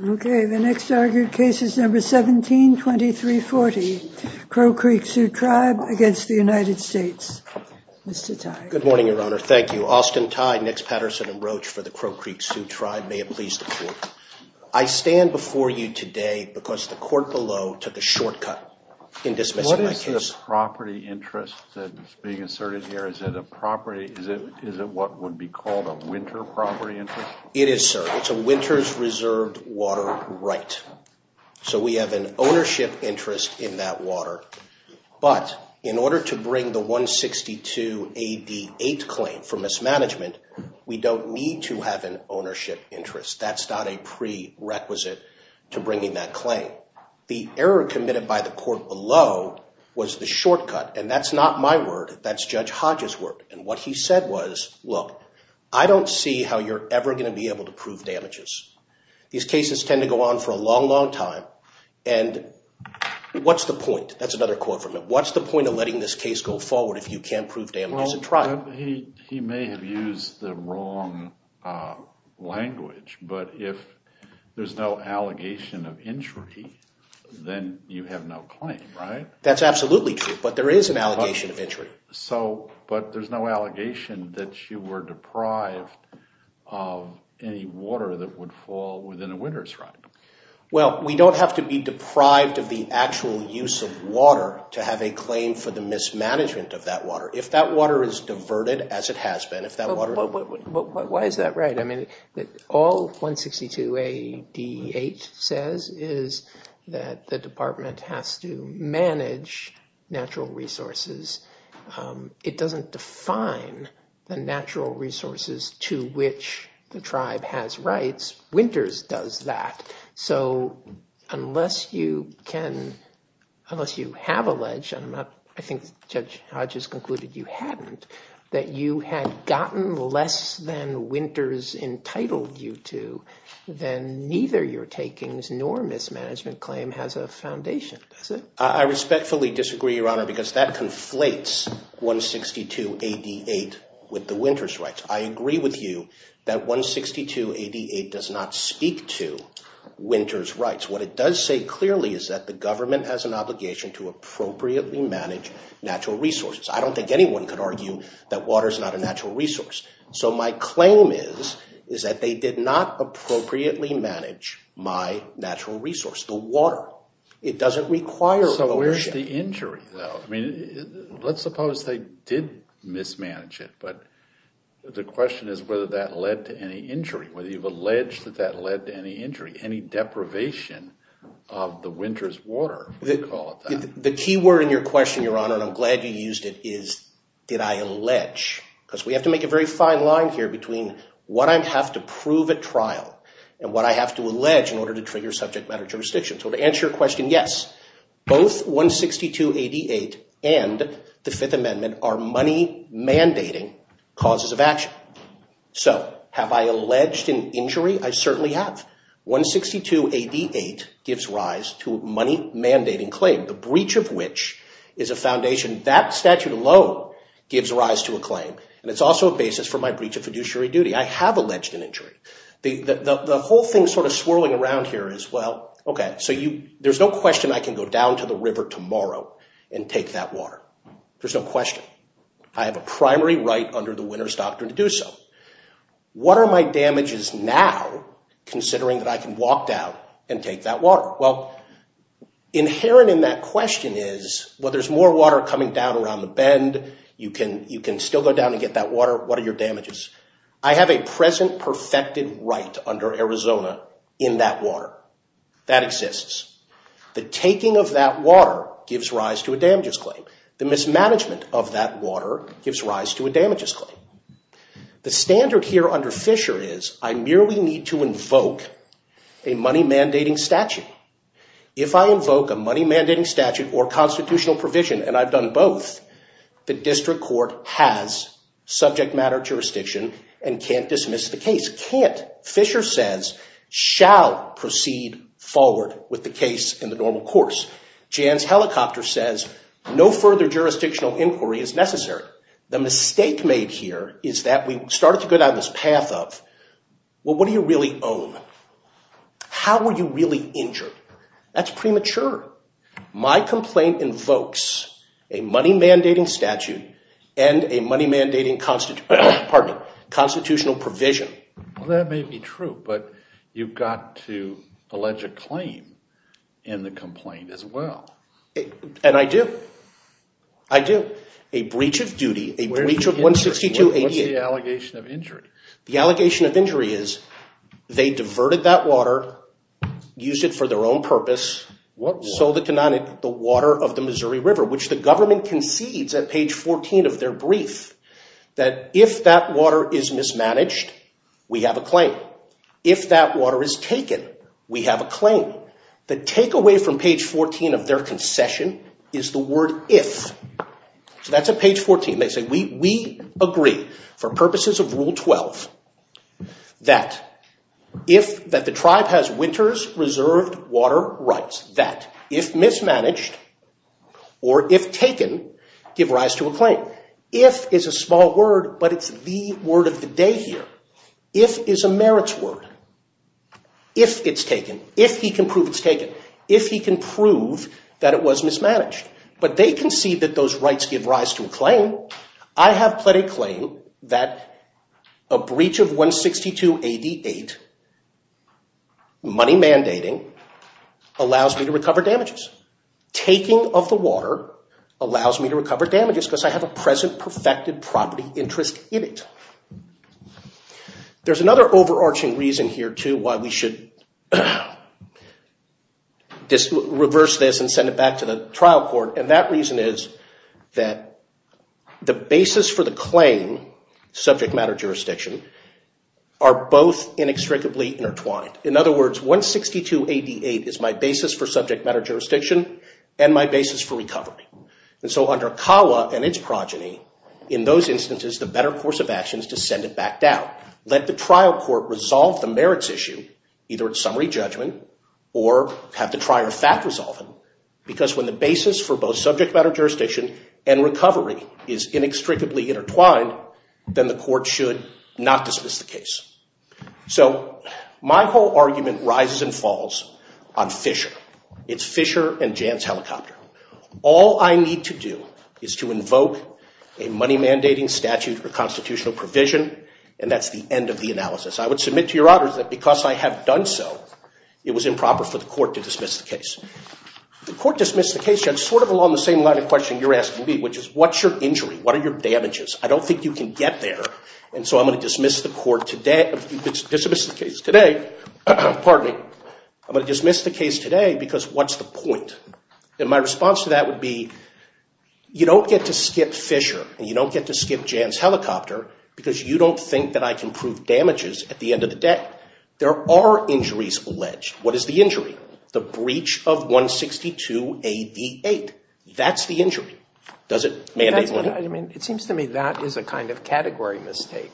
Okay, the next argued case is number 17-2340 Crow Creek Sioux Tribe against the United States, Mr. Tye. Good morning, Your Honor. Thank you. Austin Tye, Nix, Patterson, and Roach for the Crow Creek Sioux Tribe. May it please the Court. I stand before you today because the court below took a shortcut in dismissing my case. What is the property interest that is being asserted here? Is it a property, is it what would be called a winter property interest? It is, sir. It's a winter's reserved water right. So we have an ownership interest in that water. But in order to bring the 162 AD 8 claim for mismanagement, we don't need to have an ownership interest. That's not a prerequisite to bringing that claim. The error committed by the court below was the shortcut, and that's not my word. That's Judge Hodge's word, and what he said was, look, I don't see how you're ever going to be able to prove damages. These cases tend to go on for a long, long time, and what's the point? That's another quote from him. What's the point of letting this case go forward if you can't prove damages in trial? Well, he may have used the wrong language, but if there's no allegation of injury, then you have no claim, right? That's absolutely true, but there is an allegation of injury. But there's no allegation that you were deprived of any water that would fall within a winter's right. Well, we don't have to be deprived of the actual use of water to have a claim for the mismanagement of that water. If that water is diverted, as it has been, if that water— But why is that right? I mean, all 162 AD 8 says is that the department has to manage natural resources. It doesn't define the natural resources to which the tribe has rights. Winters does that. So unless you can—unless you have alleged—I think Judge Hodges concluded you hadn't—that you had gotten less than winter's entitled you to, then neither your takings nor mismanagement claim has a foundation, does it? I respectfully disagree, Your Honor, because that conflates 162 AD 8 with the winter's rights. I agree with you that 162 AD 8 does not speak to winter's rights. What it does say clearly is that the government has an obligation to appropriately manage natural resources. I don't think anyone could argue that water is not a natural resource. So my claim is that they did not appropriately manage my natural resource, the water. It doesn't require— So where's the injury, though? I mean, let's suppose they did mismanage it, but the question is whether that led to any injury, whether you've alleged that that led to any injury, any deprivation of the winter's water, if you call it that. The key word in your question, Your Honor, and I'm glad you used it, is did I allege? Because we have to make a very fine line here between what I have to prove at trial and what I have to allege in order to trigger subject matter jurisdiction. So to answer your question, yes, both 162 AD 8 and the Fifth Amendment are money-mandating causes of action. So have I alleged an injury? I certainly have. 162 AD 8 gives rise to a money-mandating claim, the breach of which is a foundation. That statute alone gives rise to a claim, and it's also a basis for my breach of fiduciary duty. I have alleged an injury. The whole thing sort of swirling around here is, well, okay, so there's no question I can go down to the river tomorrow and take that water. There's no question. I have a primary right under the winner's doctrine to do so. What are my damages now, considering that I can walk down and take that water? Well, inherent in that question is, well, there's more water coming down around the bend. You can still go down and get that water. What are your damages? I have a present perfected right under Arizona in that water. That exists. The taking of that water gives rise to a damages claim. The mismanagement of that water gives rise to a damages claim. The standard here under Fisher is I merely need to invoke a money-mandating statute. If I invoke a money-mandating statute or constitutional provision, and I've done both, the district court has subject matter jurisdiction and can't dismiss the case. Can't. Fisher says shall proceed forward with the case in the normal course. Jan's helicopter says no further jurisdictional inquiry is necessary. The mistake made here is that we started to go down this path of, well, what do you really own? How were you really injured? That's premature. My complaint invokes a money-mandating statute and a money-mandating constitutional provision. Well, that may be true, but you've got to allege a claim in the complaint as well. And I do. I do. A breach of duty, a breach of 162.88. What's the allegation of injury? The allegation of injury is they diverted that water, used it for their own purpose. What water? The water of the Missouri River, which the government concedes at page 14 of their brief that if that water is mismanaged, we have a claim. If that water is taken, we have a claim. The takeaway from page 14 of their concession is the word if. So that's at page 14. They say we agree for purposes of Rule 12 that if that the tribe has winter's reserved water rights, that if mismanaged or if taken, give rise to a claim. If is a small word, but it's the word of the day here. If is a merits word. If it's taken. If he can prove it's taken. If he can prove that it was mismanaged. But they concede that those rights give rise to a claim. I have pled a claim that a breach of 162.88, money mandating, allows me to recover damages. Taking of the water allows me to recover damages because I have a present perfected property interest in it. There's another overarching reason here, too, why we should reverse this and send it back to the trial court. And that reason is that the basis for the claim, subject matter jurisdiction, are both inextricably intertwined. In other words, 162.88 is my basis for subject matter jurisdiction and my basis for recovery. And so under CAWA and its progeny, in those instances, the better course of action is to send it back down. Let the trial court resolve the merits issue, either at summary judgment or have the trier of fact resolve it. Because when the basis for both subject matter jurisdiction and recovery is inextricably intertwined, then the court should not dismiss the case. So my whole argument rises and falls on Fisher. It's Fisher and Jan's helicopter. All I need to do is to invoke a money mandating statute or constitutional provision, and that's the end of the analysis. I would submit to your honors that because I have done so, it was improper for the court to dismiss the case. The court dismissed the case, Judge, sort of along the same line of question you're asking me, which is what's your injury? What are your damages? I don't think you can get there. And so I'm going to dismiss the case today because what's the point? And my response to that would be you don't get to skip Fisher and you don't get to skip Jan's helicopter because you don't think that I can prove damages at the end of the day. There are injuries alleged. What is the injury? The breach of 162AV8. That's the injury. Does it mandate money? I mean, it seems to me that is a kind of category mistake.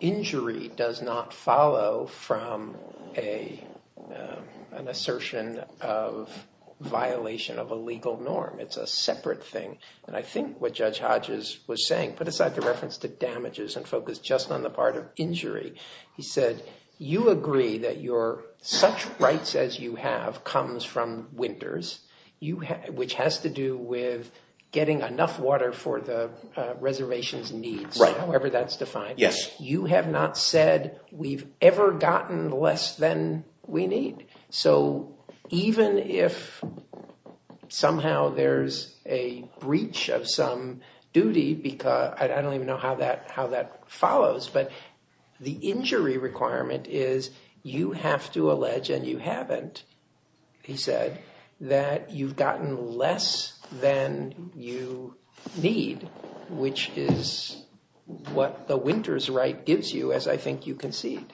Injury does not follow from an assertion of violation of a legal norm. It's a separate thing. And I think what Judge Hodges was saying, put aside the reference to damages and focus just on the part of injury. He said you agree that your such rights as you have comes from winters, which has to do with getting enough water for the reservation's needs. However, that's defined. Yes. You have not said we've ever gotten less than we need. So even if somehow there's a breach of some duty, I don't even know how that follows, but the injury requirement is you have to allege, and you haven't, he said, that you've gotten less than you need, which is what the winter's right gives you, as I think you concede.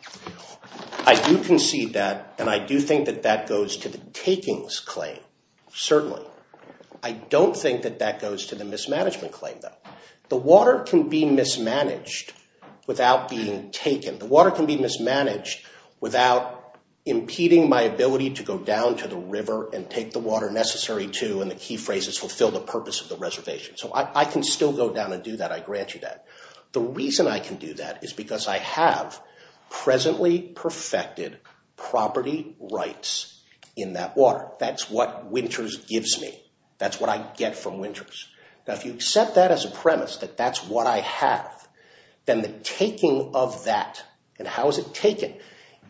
I do concede that, and I do think that that goes to the takings claim, certainly. I don't think that that goes to the mismanagement claim, though. The water can be mismanaged without being taken. The water can be mismanaged without impeding my ability to go down to the river and take the water necessary to, in the key phrases, fulfill the purpose of the reservation. So I can still go down and do that. I grant you that. The reason I can do that is because I have presently perfected property rights in that water. That's what winter's gives me. That's what I get from winter's. Now, if you accept that as a premise, that that's what I have, then the taking of that, and how is it taken?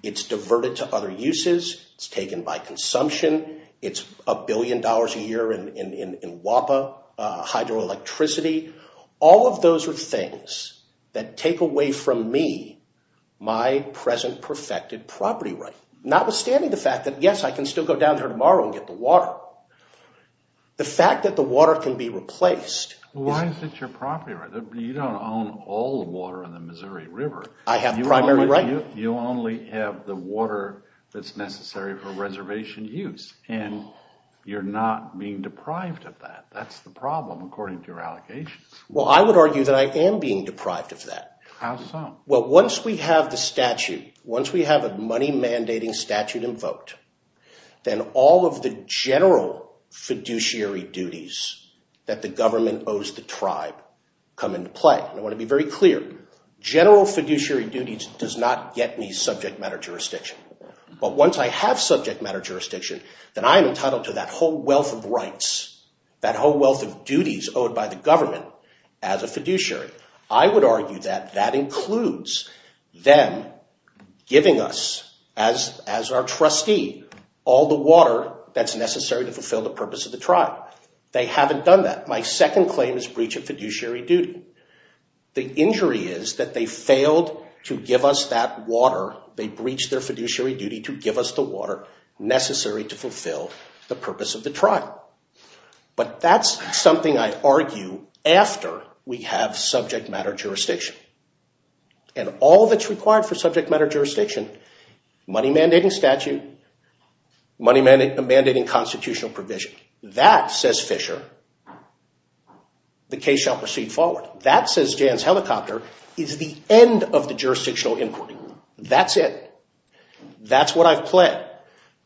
It's diverted to other uses. It's taken by consumption. It's a billion dollars a year in WAPA, hydroelectricity. All of those are things that take away from me my present perfected property right, notwithstanding the fact that, yes, I can still go down there tomorrow and get the water. The fact that the water can be replaced— Why is it your property right? You don't own all the water in the Missouri River. I have primary right. You only have the water that's necessary for reservation use, and you're not being deprived of that. That's the problem, according to your allocations. Well, I would argue that I am being deprived of that. How so? Well, once we have the statute, once we have a money-mandating statute invoked, then all of the general fiduciary duties that the government owes the tribe come into play. I want to be very clear. General fiduciary duties does not get me subject matter jurisdiction. But once I have subject matter jurisdiction, then I am entitled to that whole wealth of rights, that whole wealth of duties owed by the government as a fiduciary. I would argue that that includes them giving us, as our trustee, all the water that's necessary to fulfill the purpose of the trial. They haven't done that. My second claim is breach of fiduciary duty. The injury is that they failed to give us that water. They breached their fiduciary duty to give us the water necessary to fulfill the purpose of the trial. But that's something I argue after we have subject matter jurisdiction. And all that's required for subject matter jurisdiction, money-mandating statute, money-mandating constitutional provision, that, says Fisher, the case shall proceed forward. That, says Jan's helicopter, is the end of the jurisdictional inquiry. That's it. That's what I've pled.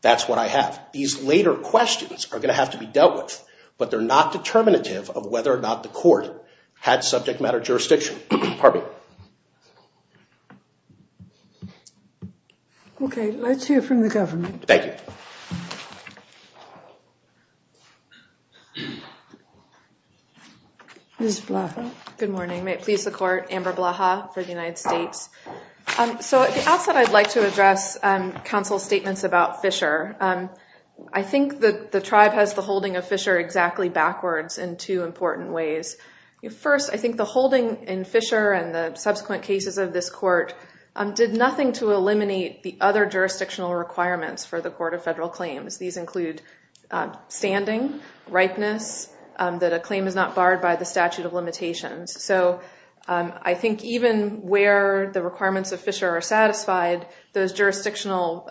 That's what I have. These later questions are going to have to be dealt with. But they're not determinative of whether or not the court had subject matter jurisdiction. Pardon me. Okay, let's hear from the government. Thank you. Ms. Blaha. Good morning. May it please the court, Amber Blaha for the United States. So at the outset, I'd like to address counsel's statements about Fisher. I think the tribe has the holding of Fisher exactly backwards in two important ways. First, I think the holding in Fisher and the subsequent cases of this court did nothing to eliminate the other jurisdictional requirements for the Court of Federal Claims. These include standing, ripeness, that a claim is not barred by the statute of limitations. So I think even where the requirements of Fisher are satisfied, those jurisdictional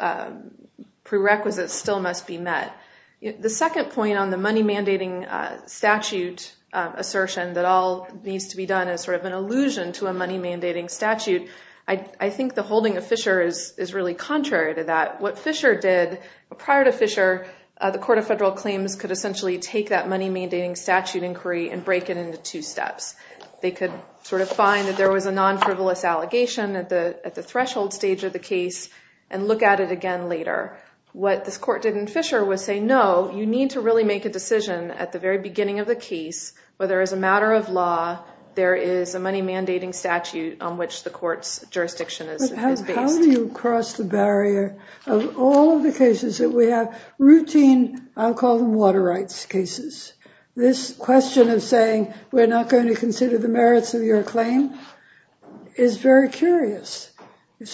prerequisites still must be met. The second point on the money-mandating statute assertion that all needs to be done is sort of an allusion to a money-mandating statute. I think the holding of Fisher is really contrary to that. What Fisher did, prior to Fisher, the Court of Federal Claims could essentially take that money-mandating statute inquiry and break it into two steps. They could sort of find that there was a non-frivolous allegation at the threshold stage of the case and look at it again later. What this court did in Fisher was say, no, you need to really make a decision at the very beginning of the case, whether as a matter of law there is a money-mandating statute on which the court's jurisdiction is based. But how do you cross the barrier of all of the cases that we have? Routine, I'll call them water rights cases. This question of saying we're not going to consider the merits of your claim is very curious. This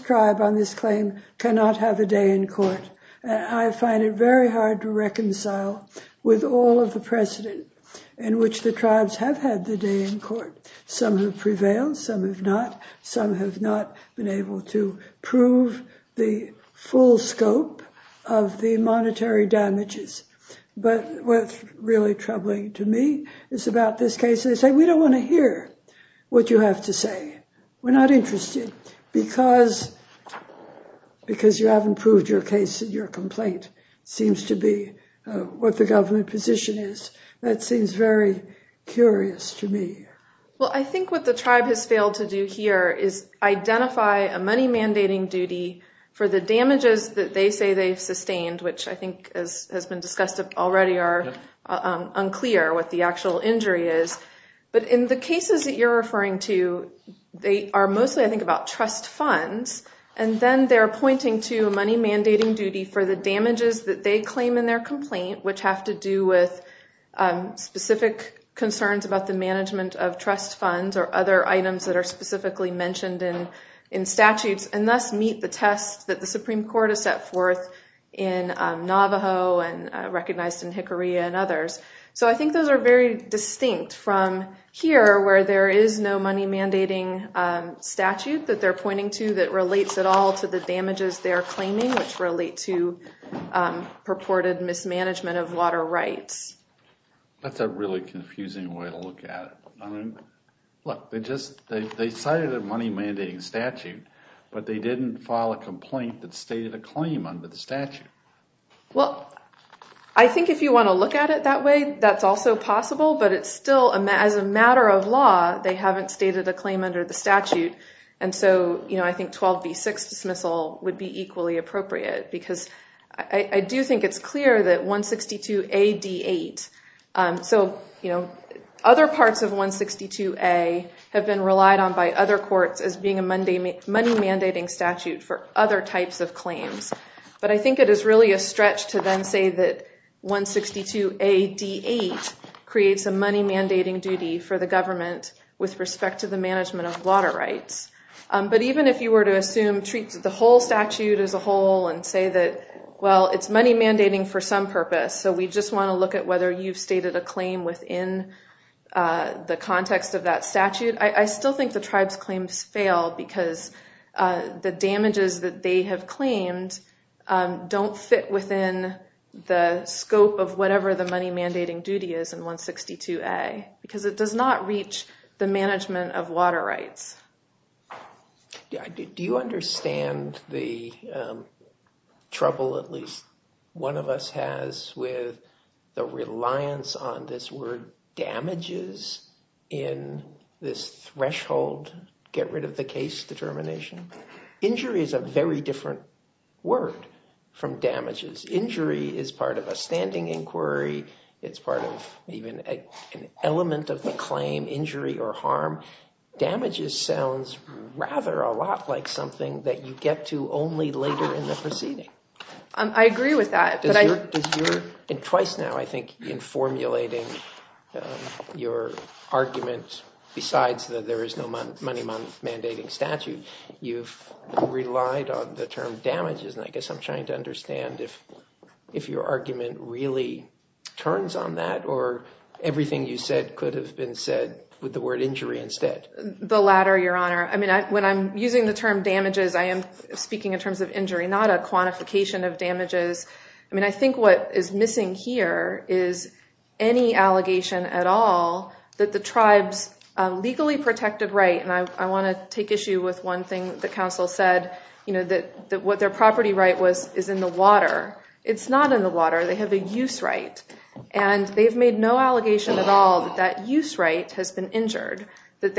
tribe on this claim cannot have a day in court. I find it very hard to reconcile with all of the precedent in which the tribes have had the day in court. Some have prevailed, some have not. Some have not been able to prove the full scope of the monetary damages. But what's really troubling to me is about this case. They say, we don't want to hear what you have to say. We're not interested because you haven't proved your case and your complaint seems to be what the government position is. That seems very curious to me. Well, I think what the tribe has failed to do here is identify a money-mandating duty for the damages that they say they've sustained, which I think has been discussed already are unclear what the actual injury is. But in the cases that you're referring to, they are mostly, I think, about trust funds. And then they're pointing to a money-mandating duty for the damages that they claim in their complaint, which have to do with specific concerns about the management of trust funds or other items that are specifically mentioned in statutes, and thus meet the tests that the Supreme Court has set forth in Navajo and recognized in Hickory and others. So I think those are very distinct from here, where there is no money-mandating statute that they're pointing to that relates at all to the damages they're claiming, which relate to purported mismanagement of water rights. That's a really confusing way to look at it. Look, they cited a money-mandating statute, but they didn't file a complaint that stated a claim under the statute. Well, I think if you want to look at it that way, that's also possible. But it's still, as a matter of law, they haven't stated a claim under the statute. And so I think 12b-6 dismissal would be equally appropriate because I do think it's clear that 162a-d-8. Other parts of 162a have been relied on by other courts as being a money-mandating statute for other types of claims. But I think it is really a stretch to then say that 162a-d-8 creates a money-mandating duty for the government with respect to the management of water rights. But even if you were to assume the whole statute as a whole and say that, well, it's money-mandating for some purpose, so we just want to look at whether you've stated a claim within the context of that statute, I still think the tribe's claims fail because the damages that they have claimed don't fit within the scope of whatever the money-mandating duty is in 162a. Because it does not reach the management of water rights. Do you understand the trouble at least one of us has with the reliance on this word damages in this threshold get-rid-of-the-case determination? Injury is a very different word from damages. Injury is part of a standing inquiry. It's part of even an element of the claim, injury or harm. Damages sounds rather a lot like something that you get to only later in the proceeding. I agree with that. Twice now, I think, in formulating your argument besides that there is no money-mandating statute, you've relied on the term damages. And I guess I'm trying to understand if your argument really turns on that or everything you said could have been said with the word injury instead. The latter, Your Honor. I mean, when I'm using the term damages, I am speaking in terms of injury, not a quantification of damages. I mean, I think what is missing here is any allegation at all that the tribes legally protected right. And I want to take issue with one thing that counsel said, you know, that what their property right is in the water. It's not in the water. They have a use right. And they've made no allegation at all that that use right has been injured, that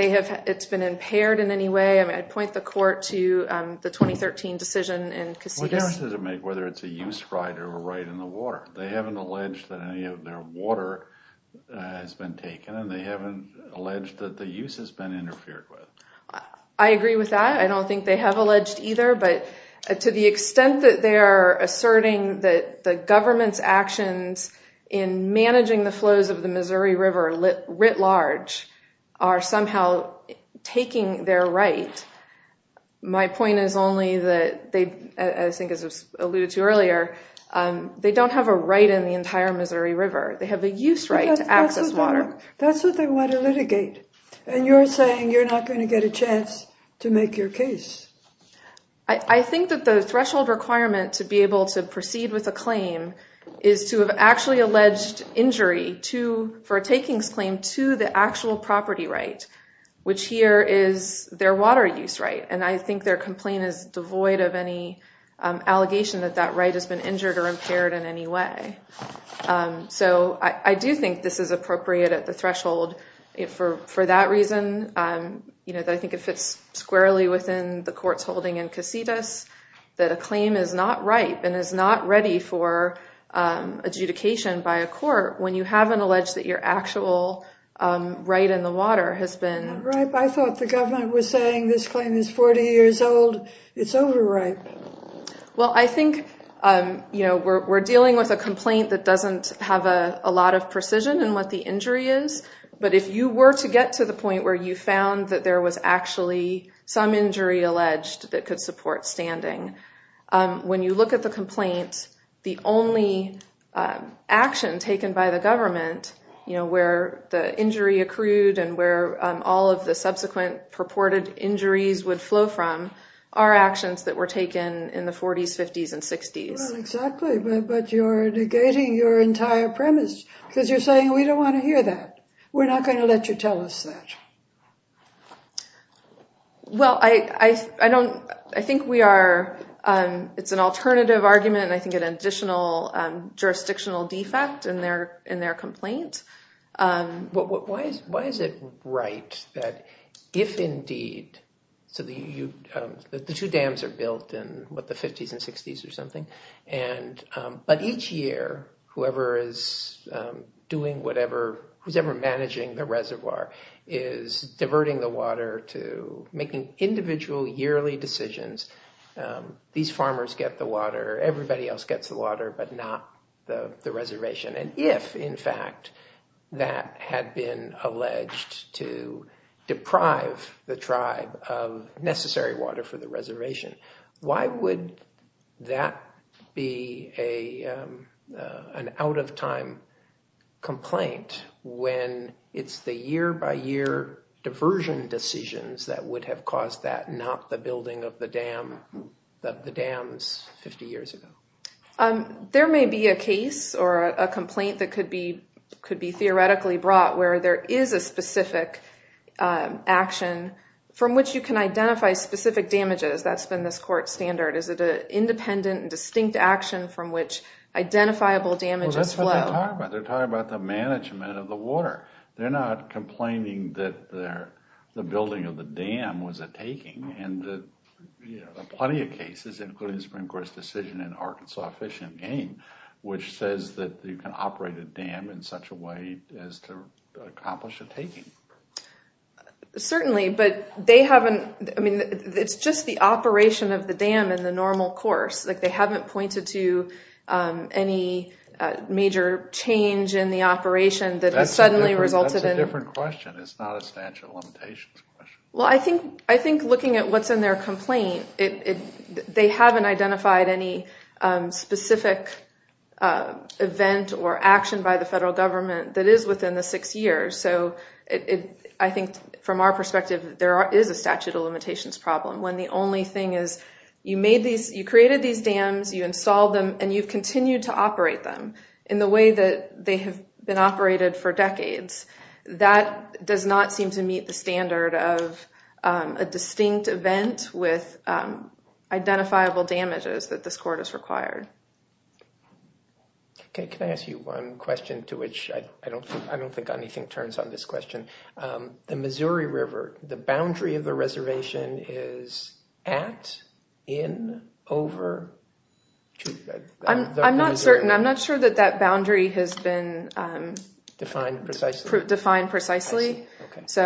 it's been impaired in any way. I mean, I'd point the court to the 2013 decision in Cassitas. What difference does it make whether it's a use right or a right in the water? They haven't alleged that any of their water has been taken and they haven't alleged that the use has been interfered with. I agree with that. I don't think they have alleged either. But to the extent that they are asserting that the government's actions in managing the flows of the Missouri River writ large are somehow taking their right. My point is only that they, I think as was alluded to earlier, they don't have a right in the entire Missouri River. They have a use right to access water. That's what they want to litigate. And you're saying you're not going to get a chance to make your case. I think that the threshold requirement to be able to proceed with a claim is to have actually alleged injury for a takings claim to the actual property right, which here is their water use right. And I think their complaint is devoid of any allegation that that right has been injured or impaired in any way. So I do think this is appropriate at the threshold for that reason. I think it fits squarely within the court's holding in Casitas that a claim is not ripe and is not ready for adjudication by a court when you haven't alleged that your actual right in the water has been. I thought the government was saying this claim is 40 years old. It's overripe. Well, I think we're dealing with a complaint that doesn't have a lot of precision in what the injury is. But if you were to get to the point where you found that there was actually some injury alleged that could support standing, when you look at the complaint, the only action taken by the government where the injury accrued and where all of the subsequent purported injuries would flow from are actions that were taken in the 40s, 50s, and 60s. Well, exactly. But you're negating your entire premise because you're saying we don't want to hear that. We're not going to let you tell us that. Well, I think it's an alternative argument and I think an additional jurisdictional defect in their complaint. Why is it right that if indeed the two dams are built in the 50s and 60s or something, but each year whoever is doing whatever, who's ever managing the reservoir is diverting the water to making individual yearly decisions. These farmers get the water, everybody else gets the water, but not the reservation. And if, in fact, that had been alleged to deprive the tribe of necessary water for the reservation, why would that be an out of time complaint when it's the year by year diversion decisions that would have caused that, not the building of the dams 50 years ago? There may be a case or a complaint that could be theoretically brought where there is a specific action from which you can identify specific damages. That's been this court standard. Is it an independent and distinct action from which identifiable damages flow? That's what they're talking about. They're talking about the management of the water. They're not complaining that the building of the dam was a taking. There are plenty of cases, including the Supreme Court's decision in Arkansas Fish and Game, which says that you can operate a dam in such a way as to accomplish a taking. Certainly, but it's just the operation of the dam in the normal course. They haven't pointed to any major change in the operation that has suddenly resulted in... That's a different question. It's not a statute of limitations question. Well, I think looking at what's in their complaint, they haven't identified any specific event or action by the federal government that is within the six years. I think from our perspective, there is a statute of limitations problem when the only thing is you created these dams, you installed them, and you've continued to operate them in the way that they have been operated for decades. That does not seem to meet the standard of a distinct event with identifiable damages that this court has required. Can I ask you one question to which I don't think anything turns on this question? The Missouri River, the boundary of the reservation is at, in, over? I'm not certain. I'm not sure that that boundary has been defined precisely. It's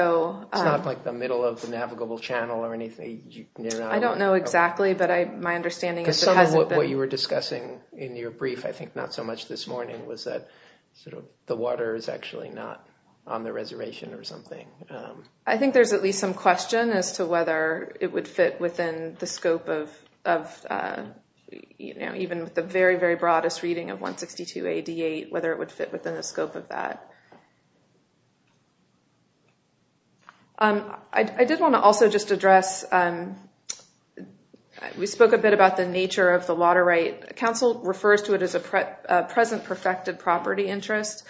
not like the middle of the navigable channel or anything? I don't know exactly, but my understanding is it hasn't been... Because some of what you were discussing in your brief, I think not so much this morning, was that the water is actually not on the reservation or something. I think there's at least some question as to whether it would fit within the scope of, even with the very, very broadest reading of 162 AD 8, whether it would fit within the scope of that. I did want to also just address, we spoke a bit about the nature of the water right. Council refers to it as a present perfected property interest.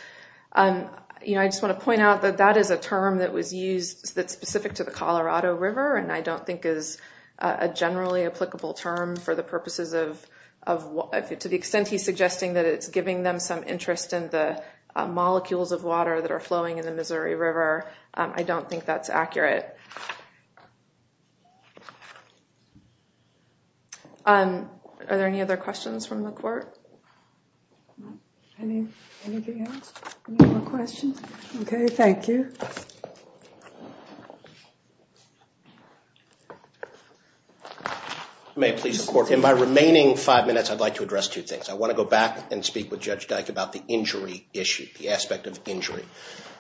I just want to point out that that is a term that was used that's specific to the Colorado River, and I don't think is a generally applicable term for the purposes of... To the extent he's suggesting that it's giving them some interest in the molecules of water that are flowing in the Missouri River, I don't think that's accurate. Are there any other questions from the court? Anything else? Any more questions? Okay, thank you. May I please... In my remaining five minutes, I'd like to address two things. I want to go back and speak with Judge Dyke about the injury issue, the aspect of injury.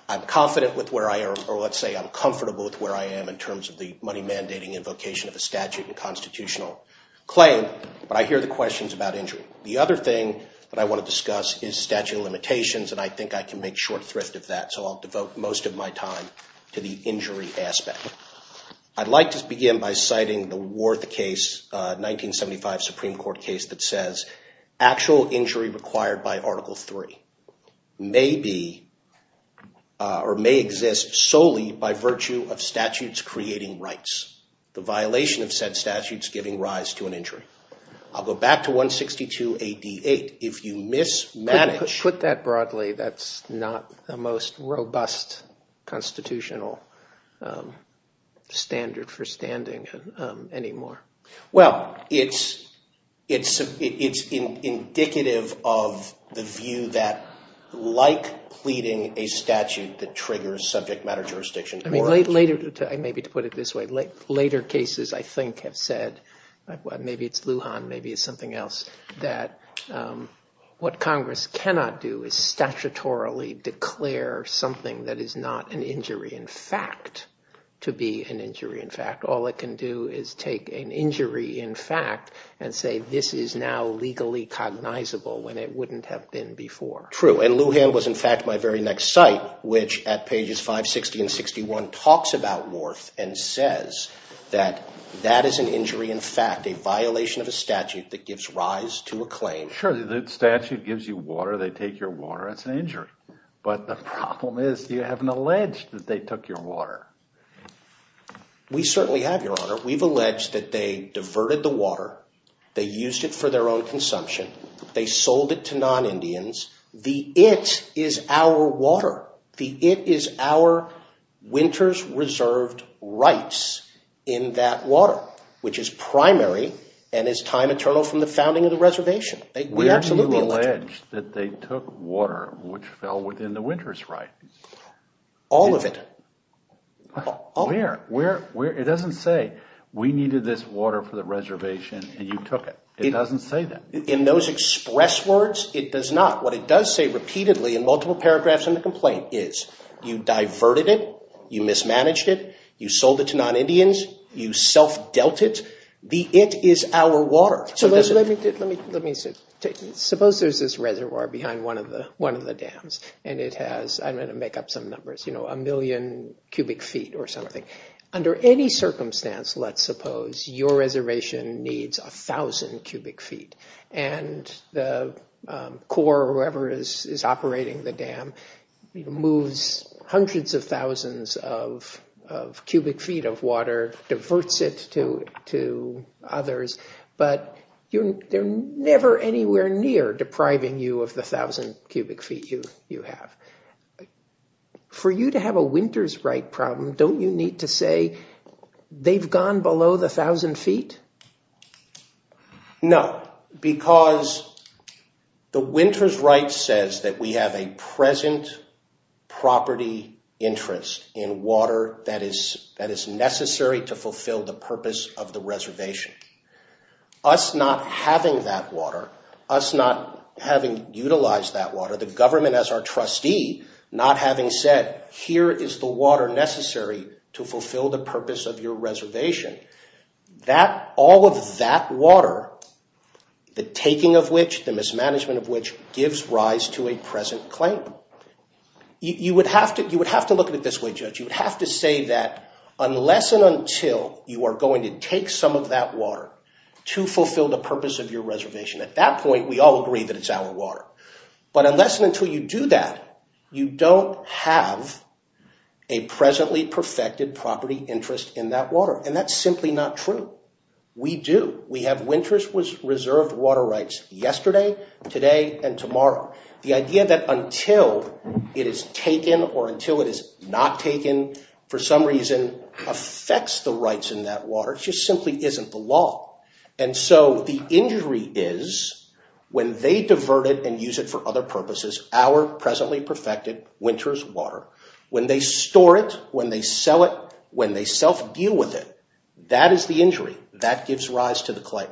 I'm confident with where I am, or let's say I'm comfortable with where I am in terms of the money mandating invocation of a statute and constitutional claim, but I hear the questions about injury. The other thing that I want to discuss is statute of limitations, and I think I can make short thrift of that, so I'll devote most of my time to that. I'll devote most of my time to the injury aspect. I'd like to begin by citing the Worth case, 1975 Supreme Court case, that says actual injury required by Article III may exist solely by virtue of statutes creating rights. The violation of said statutes giving rise to an injury. I'll go back to 162 AD 8. Put that broadly, that's not the most robust constitutional standard for standing anymore. Well, it's indicative of the view that, like pleading a statute that triggers subject matter jurisdiction... Maybe to put it this way, later cases I think have said, maybe it's Lujan, maybe it's something else, that what Congress cannot do is statutorily declare something that is not an injury in fact to be an injury in fact. All it can do is take an injury in fact and say this is now legally cognizable when it wouldn't have been before. True, and Lujan was in fact my very next site, which at pages 560 and 561 talks about Worth and says that that is an injury in fact, a violation of a statute that gives rise to a claim. Sure, the statute gives you water, they take your water, that's an injury. But the problem is you haven't alleged that they took your water. We certainly have, Your Honor. We've alleged that they diverted the water, they used it for their own consumption, they sold it to non-Indians. The it is our water. The it is our winter's reserved rights in that water, which is primary and is time eternal from the founding of the reservation. Where do you allege that they took water which fell within the winter's rights? All of it. Where? It doesn't say we needed this water for the reservation and you took it. It doesn't say that. In those express words, it does not. What it does say repeatedly in multiple paragraphs in the complaint is you diverted it, you mismanaged it, you sold it to non-Indians, you self-dealt it. The it is our water. Suppose there's this reservoir behind one of the dams and it has, I'm going to make up some numbers, a million cubic feet or something. Under any circumstance, let's suppose your reservation needs a thousand cubic feet and the Corps or whoever is operating the dam moves hundreds of thousands of cubic feet of water, diverts it to others, but they're never anywhere near depriving you of the thousand cubic feet you have. For you to have a winter's right problem, don't you need to say they've gone below the thousand feet? No, because the winter's right says that we have a present property interest in water that is necessary to fulfill the purpose of the reservation. Us not having that water, us not having utilized that water, the government as our trustee not having said here is the water necessary to fulfill the purpose of your reservation. All of that water, the taking of which, the mismanagement of which gives rise to a present claim. You would have to look at it this way, Judge. You would have to say that unless and until you are going to take some of that water to fulfill the purpose of your reservation, at that point we all agree that it's our water. But unless and until you do that, you don't have a presently perfected property interest in that water. And that's simply not true. We do. We have winter's reserved water rights yesterday, today, and tomorrow. The idea that until it is taken or until it is not taken for some reason affects the rights in that water just simply isn't the law. And so the injury is when they divert it and use it for other purposes, our presently perfected winter's water, when they store it, when they sell it, when they self-deal with it, that is the injury. That gives rise to the claim.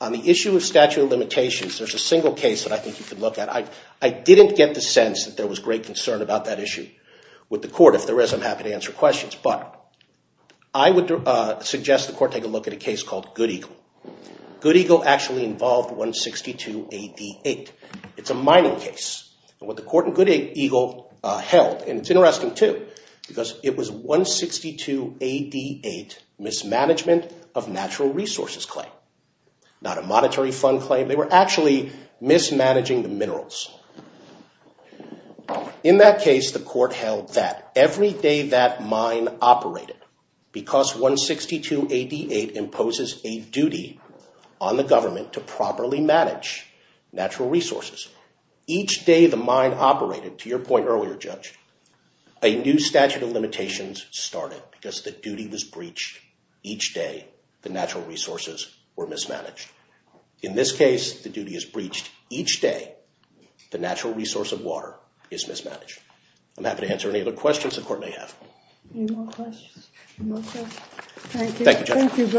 On the issue of statute of limitations, there's a single case that I think you can look at. I didn't get the sense that there was great concern about that issue with the court. If there is, I'm happy to answer questions. I would suggest the court take a look at a case called Good Eagle. Good Eagle actually involved 162 AD 8. It's a mining case. What the court in Good Eagle held, and it's interesting too, because it was 162 AD 8, mismanagement of natural resources claim. Not a monetary fund claim. They were actually mismanaging the minerals. In that case, the court held that every day that mine operated, because 162 AD 8 imposes a duty on the government to properly manage natural resources. Each day the mine operated, to your point earlier, Judge, a new statute of limitations started because the duty was breached each day the natural resources were mismanaged. In this case, the duty is breached each day the natural resource of water is mismanaged. I'm happy to answer any other questions the court may have. Any more questions? Thank you, Judge.